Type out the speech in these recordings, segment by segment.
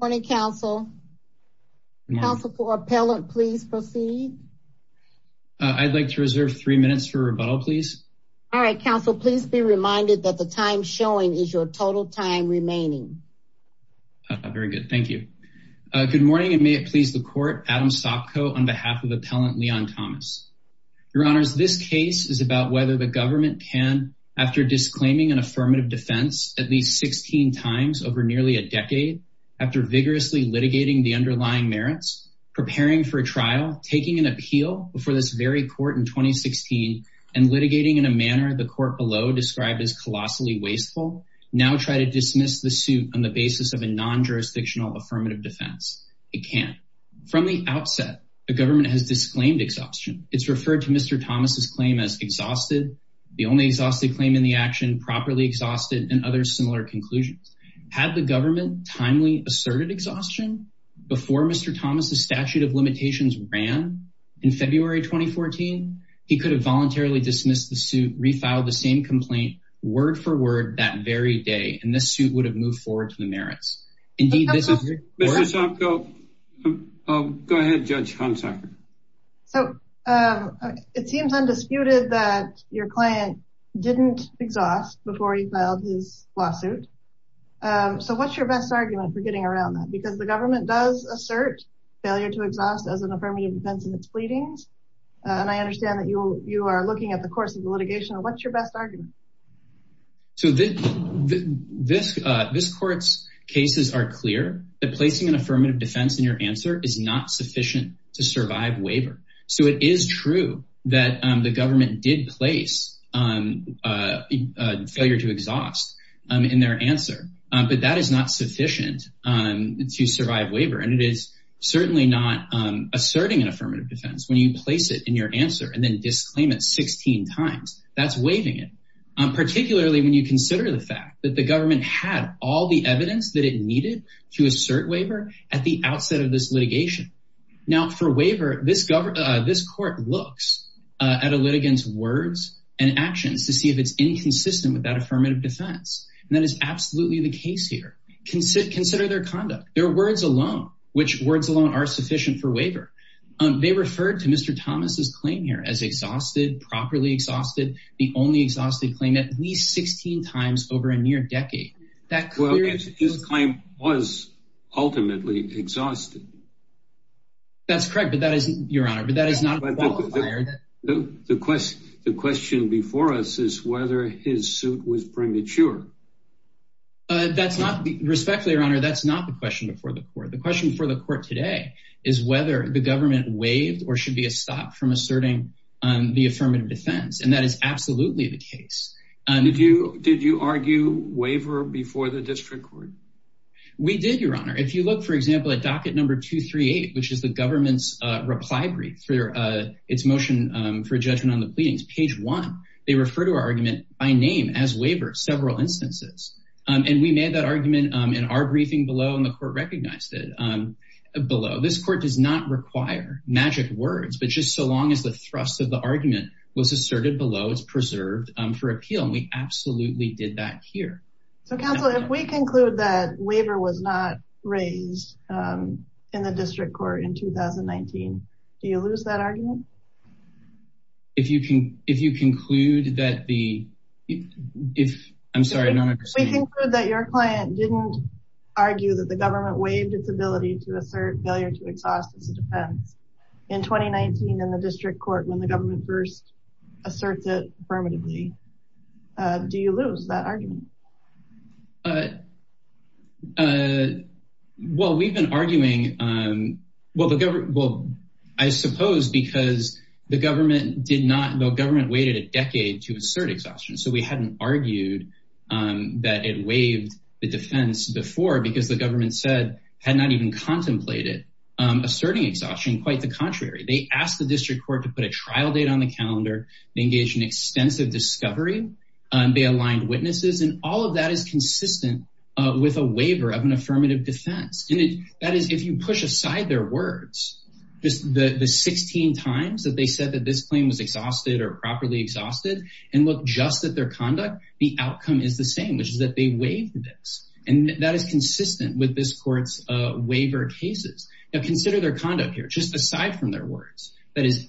morning counsel counsel for appellant please proceed I'd like to reserve three minutes for rebuttal please all right counsel please be reminded that the time showing is your total time remaining very good thank you good morning and may it please the court Adam Sopko on behalf of appellant Leon Thomas your honors this case is about whether the government can after disclaiming an vigorously litigating the underlying merits preparing for a trial taking an appeal before this very court in 2016 and litigating in a manner the court below described as colossally wasteful now try to dismiss the suit on the basis of a non-jurisdictional affirmative defense it can't from the outset the government has disclaimed exhaustion it's referred to mr. Thomas's claim as exhausted the only exhausted claim in the action properly exhausted and other similar conclusions had the government timely asserted exhaustion before mr. Thomas's statute of limitations ran in February 2014 he could have voluntarily dismissed the suit refiled the same complaint word-for-word that very day and this suit would have moved forward to the merits indeed this is go ahead judge Hansak so it seems undisputed that your client didn't exhaust before he lawsuit so what's your best argument for getting around that because the government does assert failure to exhaust as an affirmative defense in its pleadings and I understand that you you are looking at the course of the litigation of what's your best argument so this this this courts cases are clear that placing an affirmative defense in your answer is not sufficient to survive in their answer but that is not sufficient to survive waiver and it is certainly not asserting an affirmative defense when you place it in your answer and then disclaim it 16 times that's waiving it particularly when you consider the fact that the government had all the evidence that it needed to assert waiver at the outset of this litigation now for waiver this government this court looks at a litigants words and actions to see if it's inconsistent with that affirmative defense and that is absolutely the case here can sit consider their conduct their words alone which words alone are sufficient for waiver they referred to mr. Thomas's claim here as exhausted properly exhausted the only exhausted claim at least 16 times over a near decade that well his claim was ultimately exhausted that's correct but that isn't your honor the question the question before us is whether his suit was premature that's not respectfully your honor that's not the question before the court the question for the court today is whether the government waived or should be a stop from asserting the affirmative defense and that is absolutely the case and if you did you argue waiver before the district court we did your honor if you look for example at docket number two three eight which is the government's reply brief for its motion for judgment on the pleadings page one they refer to our argument by name as waiver several instances and we made that argument in our briefing below and the court recognized it below this court does not require magic words but just so long as the thrust of the argument was asserted below it's preserved for appeal and we absolutely did that here so counsel if we conclude that waiver was not raised in the district court in 2019 do you lose that argument if you can if you conclude that the if I'm sorry no I think that your client didn't argue that the government waived its ability to assert failure to exhaust its defense in 2019 in the district court when the well we've been arguing well the government well I suppose because the government did not know government waited a decade to assert exhaustion so we hadn't argued that it waived the defense before because the government said had not even contemplated asserting exhaustion quite the contrary they asked the district court to put a trial date on the calendar engaged in extensive discovery and they aligned witnesses and all of that is consistent with a waiver of an affirmative defense and that is if you push aside their words just the the 16 times that they said that this claim was exhausted or properly exhausted and look just at their conduct the outcome is the same which is that they waived this and that is consistent with this courts waiver cases now consider their conduct here just aside from their words that is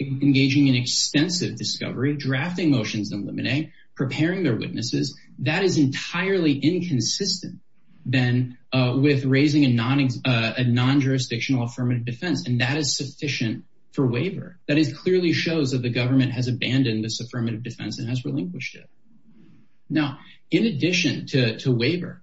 engaging in extensive discovery drafting motions in limine preparing their witnesses that is entirely inconsistent then with raising a non-ex a non-jurisdictional affirmative defense and that is sufficient for waiver that is clearly shows that the government has abandoned this affirmative defense and has relinquished it now in addition to waiver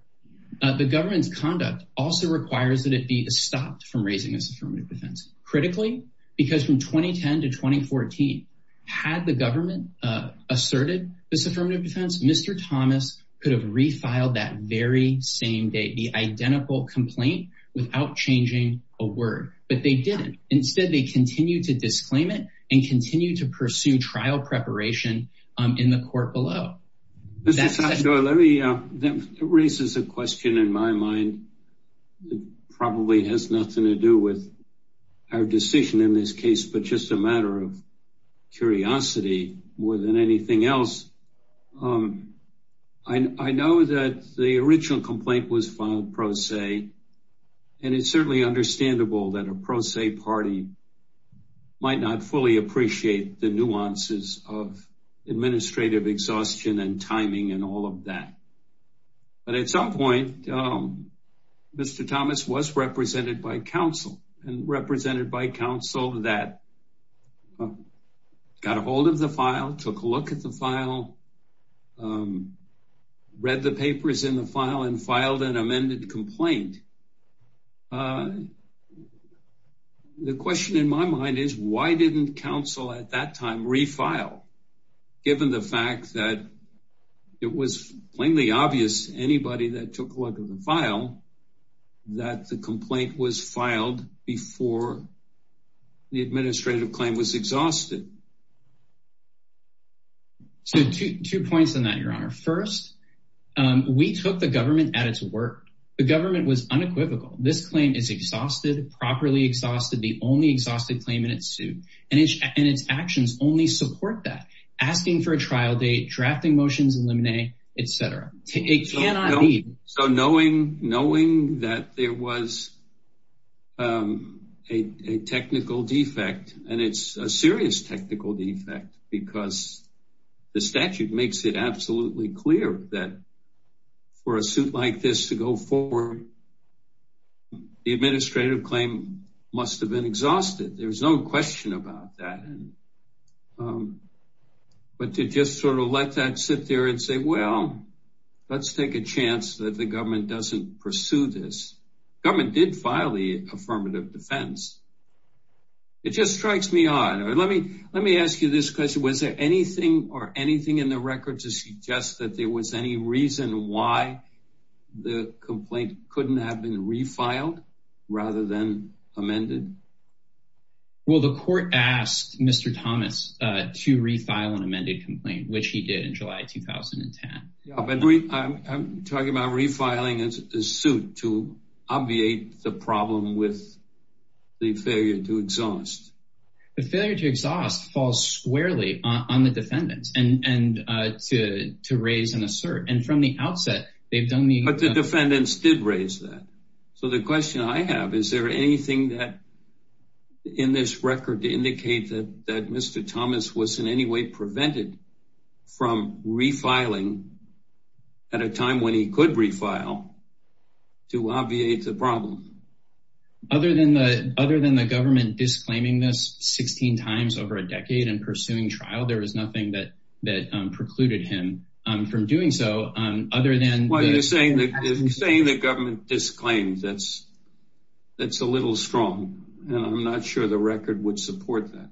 the government's conduct also requires that it be stopped from raising this affirmative defense critically because from 2010 to 2014 had the government asserted this affirmative defense Mr. Thomas could have refiled that very same day the identical complaint without changing a word but they didn't instead they continue to disclaim it and continue to pursue trial preparation in the court below Mr. Sandoval raises a question in my mind that probably has nothing to do with our decision in this case but just a matter of curiosity more than anything else I know that the original complaint was filed pro se and it's certainly understandable that a pro se party might not fully appreciate the timing and all of that but at some point Mr. Thomas was represented by counsel and represented by counsel that got a hold of the file took a look at the file read the papers in the file and filed an amended complaint the question in my mind is why didn't counsel at that time refile given the fact that it was plainly obvious anybody that took a look at the file that the complaint was filed before the administrative claim was exhausted so two points on that your honor first we took the government at its work the government was unequivocal this claim is exhausted properly exhausted the only support that asking for a trial date drafting motions eliminate etc it cannot be so knowing knowing that there was a technical defect and it's a serious technical defect because the statute makes it absolutely clear that for a suit like this to go forward the administrative claim must have been but to just sort of let that sit there and say well let's take a chance that the government doesn't pursue this government did file the affirmative defense it just strikes me odd let me let me ask you this question was there anything or anything in the record to suggest that there was any reason why the complaint couldn't have been refiled rather than amended well the court asked mr. Thomas to refile an amended complaint which he did in July 2010 I'm talking about refiling a suit to obviate the problem with the failure to exhaust the failure to exhaust falls squarely on the defendants and and to to raise an assert and from the outset they've done me but the in this record to indicate that that mr. Thomas was in any way prevented from refiling at a time when he could refile to obviate the problem other than the other than the government disclaiming this 16 times over a decade and pursuing trial there was nothing that that precluded him from doing so other than saying that saying the government disclaims that's that's a little strong and I'm not sure the record would support that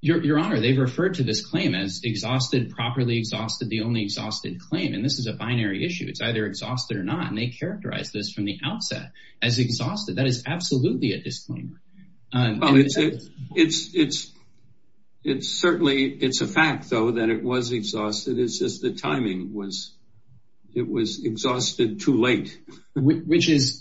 your honor they've referred to this claim as exhausted properly exhausted the only exhausted claim and this is a binary issue it's either exhausted or not and they characterize this from the outset as exhausted that is absolutely a disclaimer it's it's it's certainly it's a fact though that it was exhausted it's just the timing was it was exhausted too late which is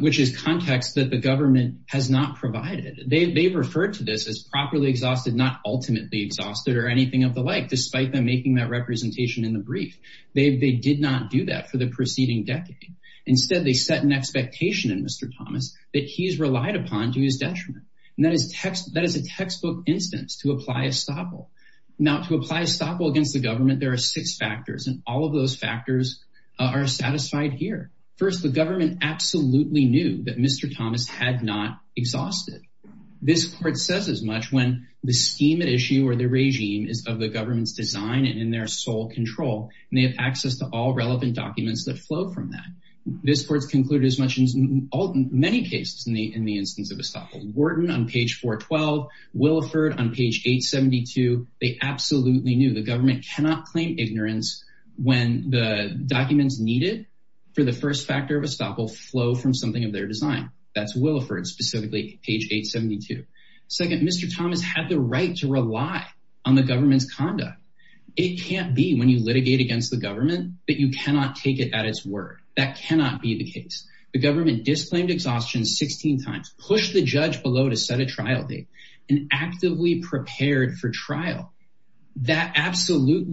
which is context that the government has not provided they referred to this as properly exhausted not ultimately exhausted or anything of the like despite them making that representation in the brief they did not do that for the preceding decade instead they set an expectation in mr. Thomas that he's relied upon to his detriment and that is text that is a textbook instance to apply a stopple now to apply a stopple against the government there are six factors and all of those factors are satisfied here first the government absolutely knew that mr. Thomas had not exhausted this court says as much when the scheme at issue or the regime is of the government's design and in their sole control and they have access to all relevant documents that flow from that this court's concluded as much as all many cases in the in the instance of a stopper Wharton on page 412 Williford on cannot claim ignorance when the documents needed for the first factor of a stop will flow from something of their design that's Williford specifically page 872 second mr. Thomas had the right to rely on the government's conduct it can't be when you litigate against the government that you cannot take it at its word that cannot be the case the government disclaimed exhaustion 16 times push the judge below to set a trial date and actively prepared for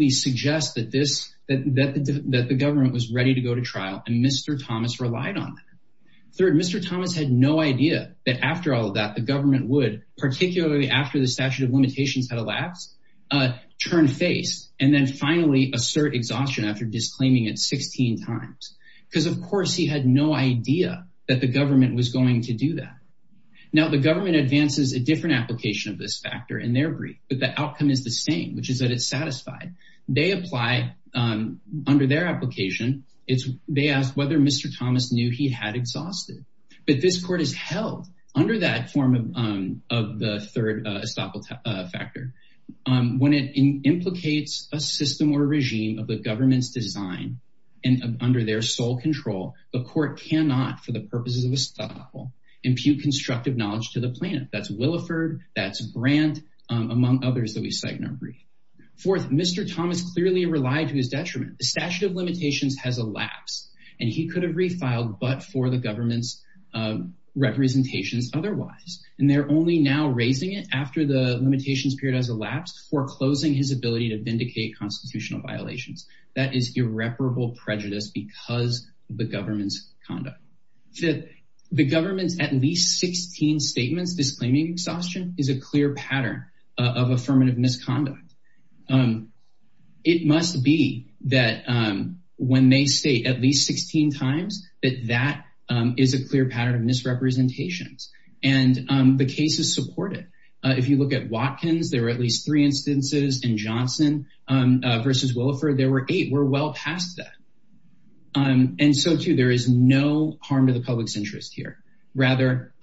suggest that this that the government was ready to go to trial and mr. Thomas relied on third mr. Thomas had no idea that after all of that the government would particularly after the statute of limitations had elapsed turn face and then finally assert exhaustion after disclaiming it 16 times because of course he had no idea that the government was going to do that now the government advances a different application of this factor in their the outcome is the same which is that it's satisfied they apply under their application it's they asked whether mr. Thomas knew he had exhausted but this court is held under that form of the third factor when it implicates a system or regime of the government's design and under their sole control the court cannot for the purposes of a stop will impute constructive knowledge to the fourth mr. Thomas clearly relied to his detriment the statute of limitations has elapsed and he could have refiled but for the government's representations otherwise and they're only now raising it after the limitations period has elapsed foreclosing his ability to vindicate constitutional violations that is irreparable prejudice because the government's conduct that the government's at least 16 statements disclaiming exhaustion is a clear pattern of affirmative misconduct it must be that when they say at least 16 times that that is a clear pattern of misrepresentations and the case is supported if you look at Watkins there were at least three instances in Johnson versus Williford there were eight we're well past that and so too there is no harm to the public's interest here rather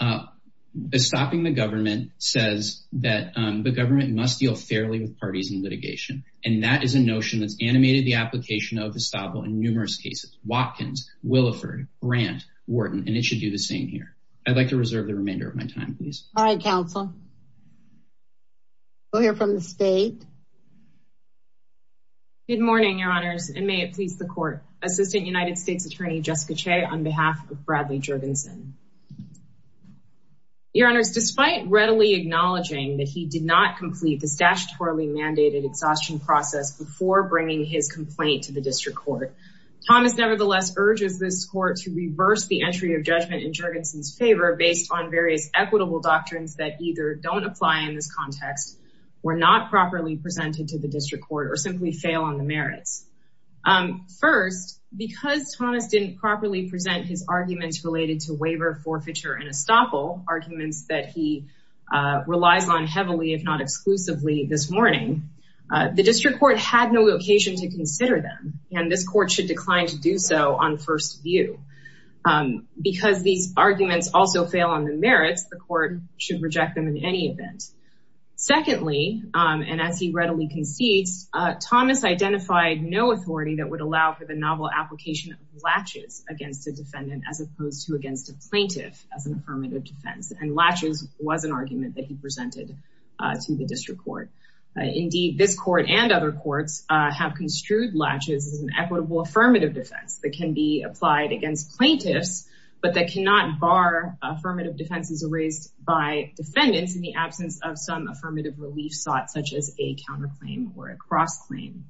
stopping the government says that the government must deal fairly with parties in litigation and that is a notion that's animated the application of the style in numerous cases Watkins Williford rant Wharton and it should do the same here I'd like to reserve the remainder of my time please all right counsel we'll hear from the state good morning your honors and may it please the court assistant United States attorney Jessica Che on behalf of Bradley Jurgensen your honors despite readily acknowledging that he did not complete the statutorily mandated exhaustion process before bringing his complaint to the district court Thomas nevertheless urges this court to reverse the entry of judgment in Jurgensen's favor based on various equitable doctrines that either don't apply in this context were not properly presented to the district court or simply fail on merits first because Thomas didn't properly present his arguments related to waiver forfeiture and estoppel arguments that he relies on heavily if not exclusively this morning the district court had no occasion to consider them and this court should decline to do so on first view because these arguments also fail on the merits the court should reject them in any event secondly and as he readily concedes Thomas identified no authority that would allow for the novel application latches against a defendant as opposed to against a plaintiff as an affirmative defense and latches was an argument that he presented to the district court indeed this court and other courts have construed latches as an equitable affirmative defense that can be applied against plaintiffs but that cannot bar affirmative defenses erased by defendants in the absence of some affirmative relief sought such as a counterclaim or a cross-claim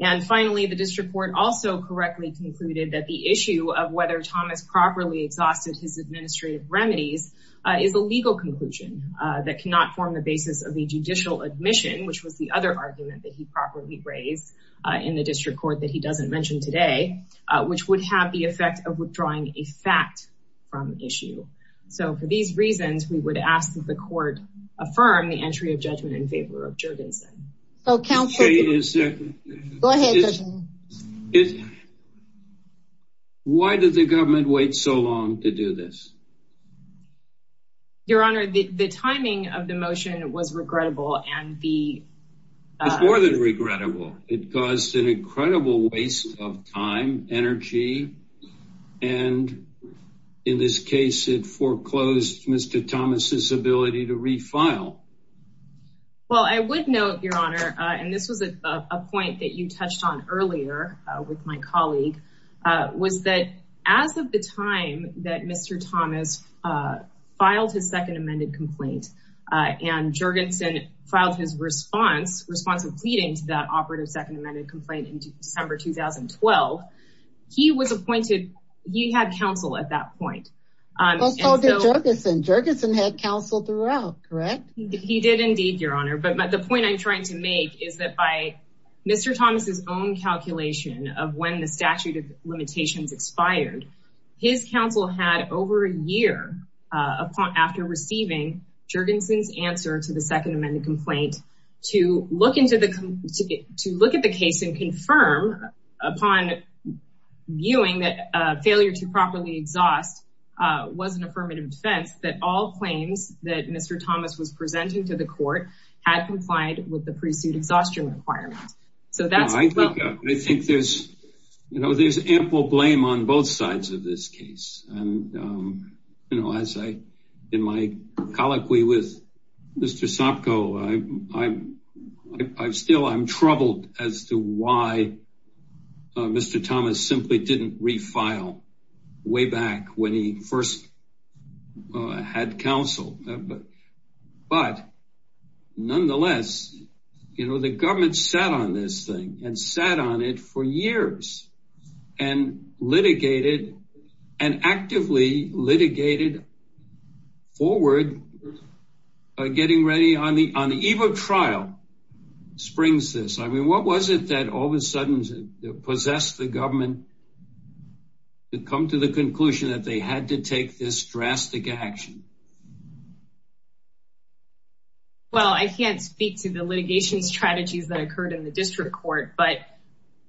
and finally the district court also correctly concluded that the issue of whether Thomas properly exhausted his administrative remedies is a legal conclusion that cannot form the basis of a judicial admission which was the other argument that he properly raised in the district court that he doesn't mention today which would have the we would ask that the court affirm the entry of judgment in favor of Jurgensen why did the government wait so long to do this your honor the timing of the motion was regrettable and the more than regrettable it caused an incredible waste of time energy and in this case it foreclosed mr. Thomas's ability to refile well I would note your honor and this was a point that you touched on earlier with my colleague was that as of the time that mr. Thomas filed his second amended complaint and Jurgensen filed his response response of pleading into that operative second amended complaint in December 2012 he was appointed he had counsel at that point Jurgensen had counsel throughout correct he did indeed your honor but but the point I'm trying to make is that by mr. Thomas's own calculation of when the statute of limitations expired his counsel had over a year upon after receiving Jurgensen's answer to the to look at the case and confirm upon viewing that failure to properly exhaust was an affirmative defense that all claims that mr. Thomas was presenting to the court had complied with the pre-suit exhaustion requirements so that's I think there's you know there's ample blame on both sides of this case and you know as in my colloquy with mr. Sopko I'm still I'm troubled as to why mr. Thomas simply didn't refile way back when he first had counsel but nonetheless you know the government sat on this thing and sat on it for years and litigated and actively litigated forward getting ready on the on the eve of trial springs this I mean what was it that all of a sudden possessed the government to come to the conclusion that they had to take this drastic action well I can't speak to the litigation strategies that occurred in the district court but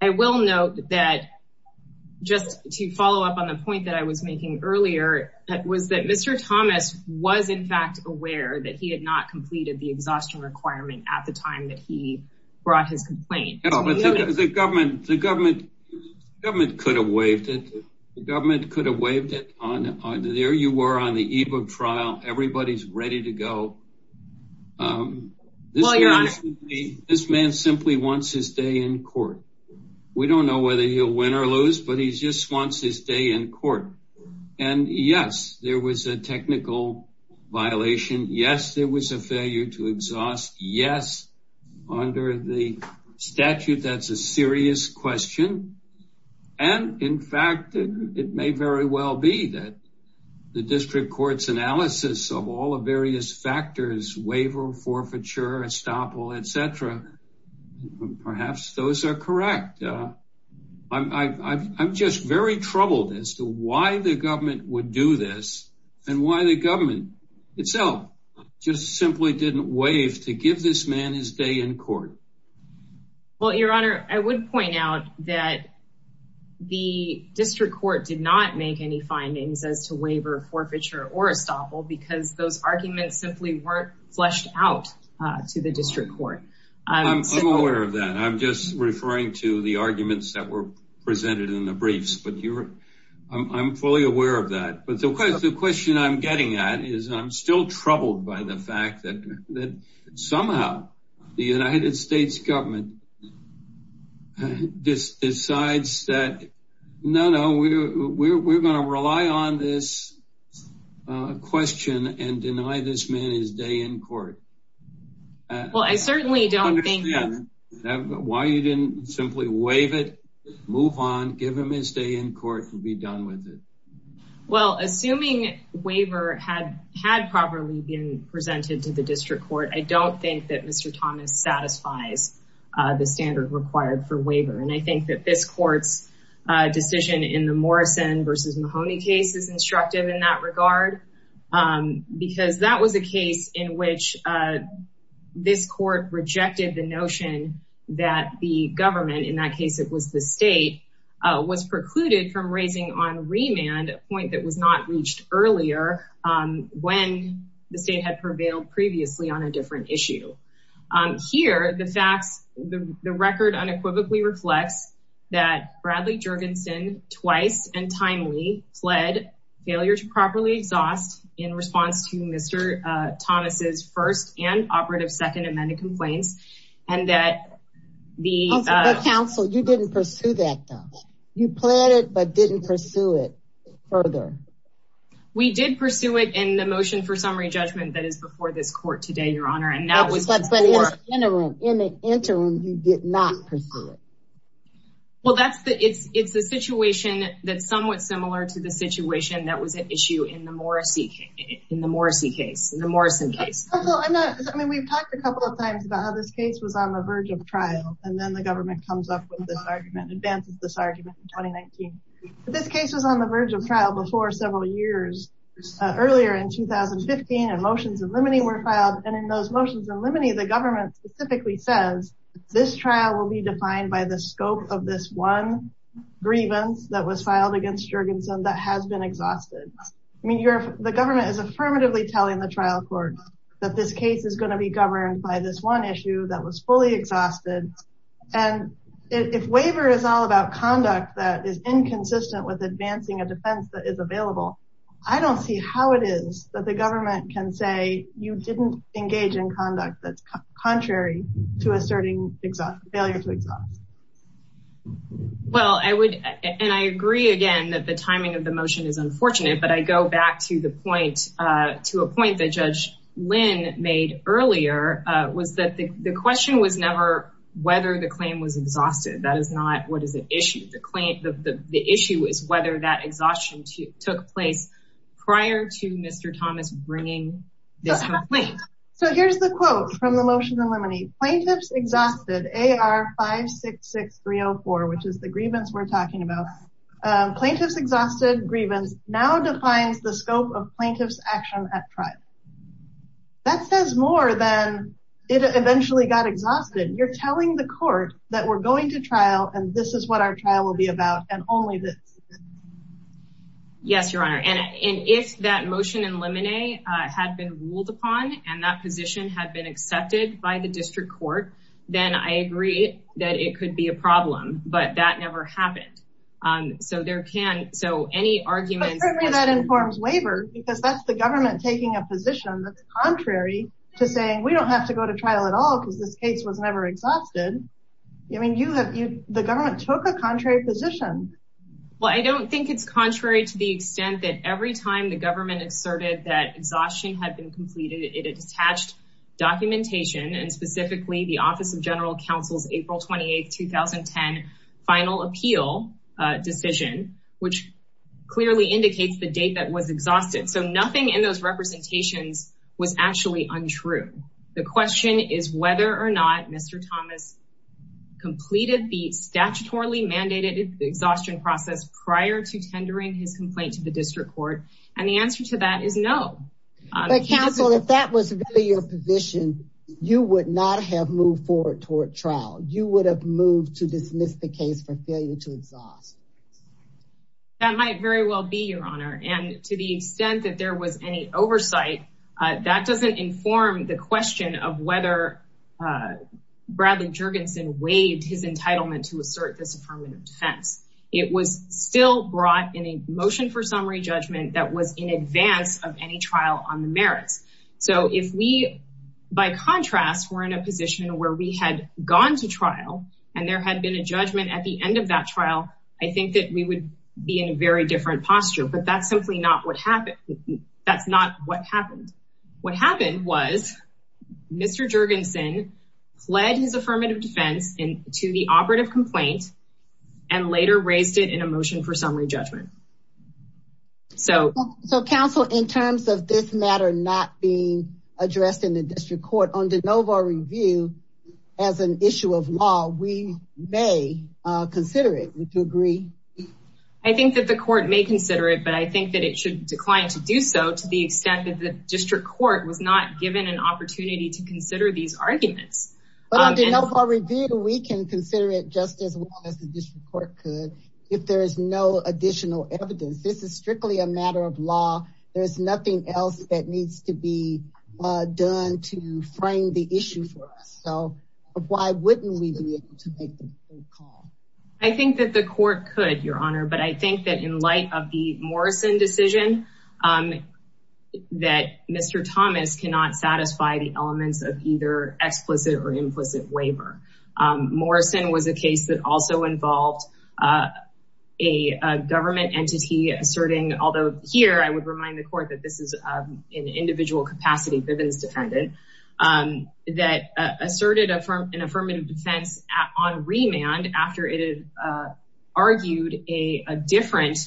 I will note that just to follow up on the point that I was making earlier that was that mr. Thomas was in fact aware that he had not completed the exhaustion requirement at the time that he brought his complaint the government the government government could have waived it the government could have waived it on there you were on the eve of trial everybody's ready to go this man simply wants to stay in we don't know whether he'll win or lose but he's just wants to stay in court and yes there was a technical violation yes there was a failure to exhaust yes under the statute that's a serious question and in fact it may very well be that the district courts analysis of all the various factors waiver forfeiture estoppel etc perhaps those are correct I'm just very troubled as to why the government would do this and why the government itself just simply didn't waive to give this man his day in court well your honor I would point out that the district court did not make any findings as to waiver forfeiture or estoppel because those arguments simply weren't fleshed out to the district court I'm aware of that I'm just referring to the arguments that were presented in the briefs but you were I'm fully aware of that but the question I'm getting at is I'm still troubled by the fact that somehow the United States government this decides that no no we're gonna rely on this question and deny this man his day in court well I certainly don't understand why you didn't simply waive it move on give him his day in court and be done with it well assuming waiver had had properly been presented to the district court I don't think that mr. Thomas satisfies the standard required for waiver and I think that this court's decision in the Morrison versus Mahoney case is instructive in that regard because that was a case in which this court rejected the notion that the government in that case it was the state was precluded from raising on remand a point that was not reached earlier when the state had prevailed previously on a different issue here the facts the record unequivocally reflects that Bradley Jurgensen twice and timely fled failure to properly exhaust in response to mr. Thomas's first and operative second amended complaints and that the council you didn't pursue that though you plan it but didn't pursue it further we did pursue it in the motion for summary judgment that is before this court today your honor and now in the interim you did not pursue it well that's the it's it's a situation that's somewhat similar to the situation that was an issue in the Morrissey in the Morrissey case in the Morrison case I mean we've talked a couple of times about how this case was on the verge of trial and then the government comes up with this argument advances this argument 2019 but this case was on the verge of trial before several years earlier in 2015 and motions and limiting were filed and in those motions and limiting the government specifically says this trial will be defined by the scope of this one grievance that was filed against Jurgensen that has been exhausted I mean you're the government is affirmatively telling the trial court that this case is going to be governed by this one issue that was fully exhausted and if waiver is all about conduct that is inconsistent with advancing a defense that is available I don't see how it is that the government can say you didn't engage in conduct that's contrary to asserting exhaust failure to exhaust well I would and I agree again that the timing of the motion is unfortunate but I go back to the point to a point that judge Lynn made earlier was that the question was never whether the claim was whether that exhaustion took place prior to mr. Thomas bringing this complaint so here's the quote from the motion to eliminate plaintiffs exhausted AR 566 304 which is the grievance we're talking about plaintiffs exhausted grievance now defines the scope of plaintiffs action at trial that says more than it eventually got exhausted you're telling the court that we're about and only this yes your honor and if that motion and lemonade had been ruled upon and that position had been accepted by the district court then I agree that it could be a problem but that never happened so there can so any argument that informs waiver because that's the government taking a position that's contrary to saying we don't have to go to trial at all because this case was never exhausted I mean you have you the government took a contrary position well I don't think it's contrary to the extent that every time the government asserted that exhaustion had been completed it attached documentation and specifically the Office of General Counsel's April 28th 2010 final appeal decision which clearly indicates the date that was exhausted so nothing in those representations was actually untrue the question is whether or not mr. Thomas completed the statutorily mandated exhaustion process prior to tendering his complaint to the district court and the answer to that is no counsel if that was your position you would not have moved forward toward trial you would have moved to dismiss the case for failure to exhaust that might very well be your honor and to the extent that there was any oversight that doesn't inform the question of whether Bradley Jurgensen waived his entitlement to assert this affirmative defense it was still brought in a motion for summary judgment that was in advance of any trial on the merits so if we by contrast were in a position where we had gone to trial and there had been a different posture but that's simply not what happened that's not what happened what happened was mr. Jurgensen fled his affirmative defense in to the operative complaint and later raised it in a motion for summary judgment so so counsel in terms of this matter not being addressed in the district court on the Novo review as an issue of law we may consider it to agree I think that the court may consider it but I think that it should decline to do so to the extent that the district court was not given an opportunity to consider these arguments but on the Novo review we can consider it just as well as the district court could if there is no additional evidence this is strictly a matter of law there is nothing else that needs to be done to frame the issue for us so why wouldn't we do it I think that the court could your honor but I think that in light of the Morrison decision that mr. Thomas cannot satisfy the elements of either explicit or implicit waiver Morrison was a case that also involved a government entity asserting although here I would remind the court that this is an individual capacity Bivens defended that asserted a firm an argued a different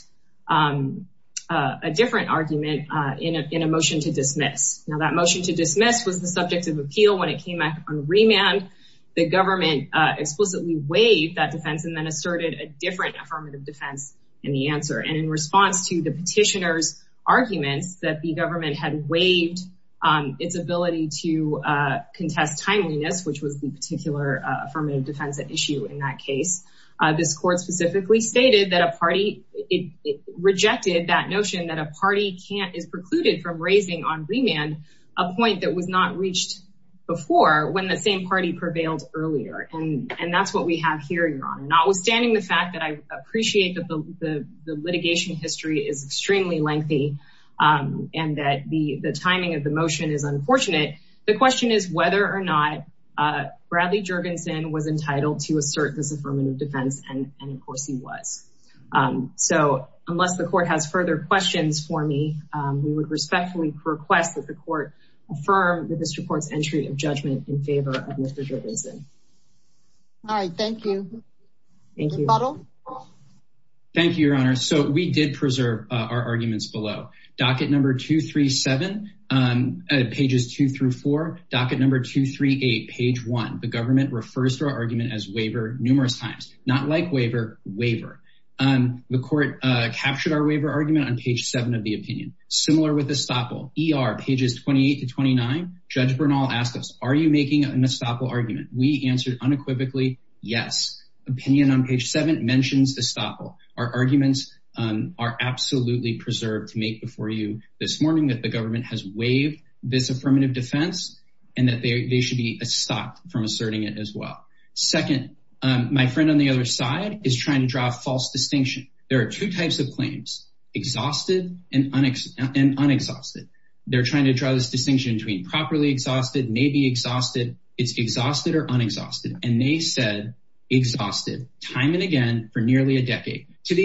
a different argument in a motion to dismiss now that motion to dismiss was the subject of appeal when it came back on remand the government explicitly waived that defense and then asserted a different affirmative defense in the answer and in response to the petitioners arguments that the government had waived its ability to contest timeliness which was the particular affirmative defense issue in that case this court specifically stated that a party it rejected that notion that a party can't is precluded from raising on remand a point that was not reached before when the same party prevailed earlier and and that's what we have here you're on notwithstanding the fact that I appreciate that the litigation history is extremely lengthy and that the the timing of the motion is unfortunate the question is whether or not Bradley Jurgensen was entitled to assert this affirmative defense and of course he was so unless the court has further questions for me we would respectfully request that the court affirm that this reports entry of judgment in favor of mr. Jason all right thank you thank you bottle thank you your honor so we did preserve our arguments below docket number two three seven pages two through four docket number two three eight page one the government refers to our argument as waiver numerous times not like waiver waiver and the court captured our waiver argument on page seven of the opinion similar with the stopple er pages 28 to 29 judge Bernal asked us are you making an estoppel argument we answered unequivocally yes opinion on page 7 mentions the stopple our arguments are absolutely preserved to make before you this morning that the government has waived this affirmative defense and that they should be stopped from asserting it as well second my friend on the other side is trying to draw a false distinction there are two types of claims exhausted and unexposed they're trying to draw this distinction between properly exhausted maybe exhausted it's exhausted or unexhausted and they said exhausted time and again for nearly a decade to the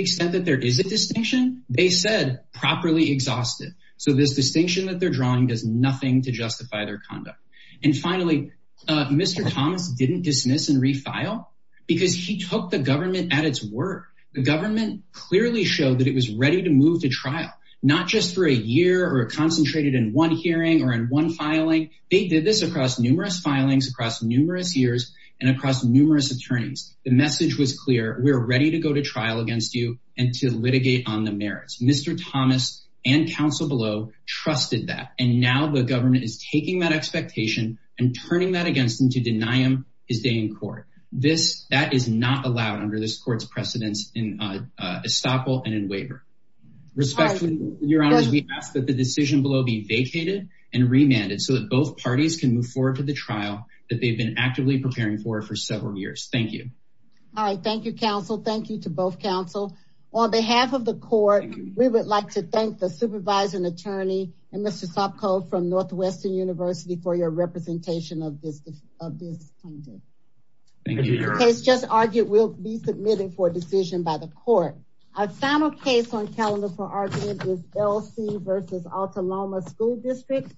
exhausted so this distinction that they're drawing does nothing to justify their conduct and finally mr. Thomas didn't dismiss and refile because he took the government at its word the government clearly showed that it was ready to move to trial not just for a year or concentrated in one hearing or in one filing they did this across numerous filings across numerous years and across numerous attorneys the message was clear we're ready to go to and counsel below trusted that and now the government is taking that expectation and turning that against them to deny him his day in court this that is not allowed under this court's precedents in estoppel and in waiver respectfully your honor's we ask that the decision below be vacated and remanded so that both parties can move forward to the trial that they've been actively preparing for for several years thank you all right thank you counsel thank you to both counsel on behalf of the court we would like to thank the supervisor an attorney and mr. Sopko from Northwestern University for your representation of this just argued we'll be submitting for a decision by the court a final case on calendar for argument is LC versus Alta Loma school district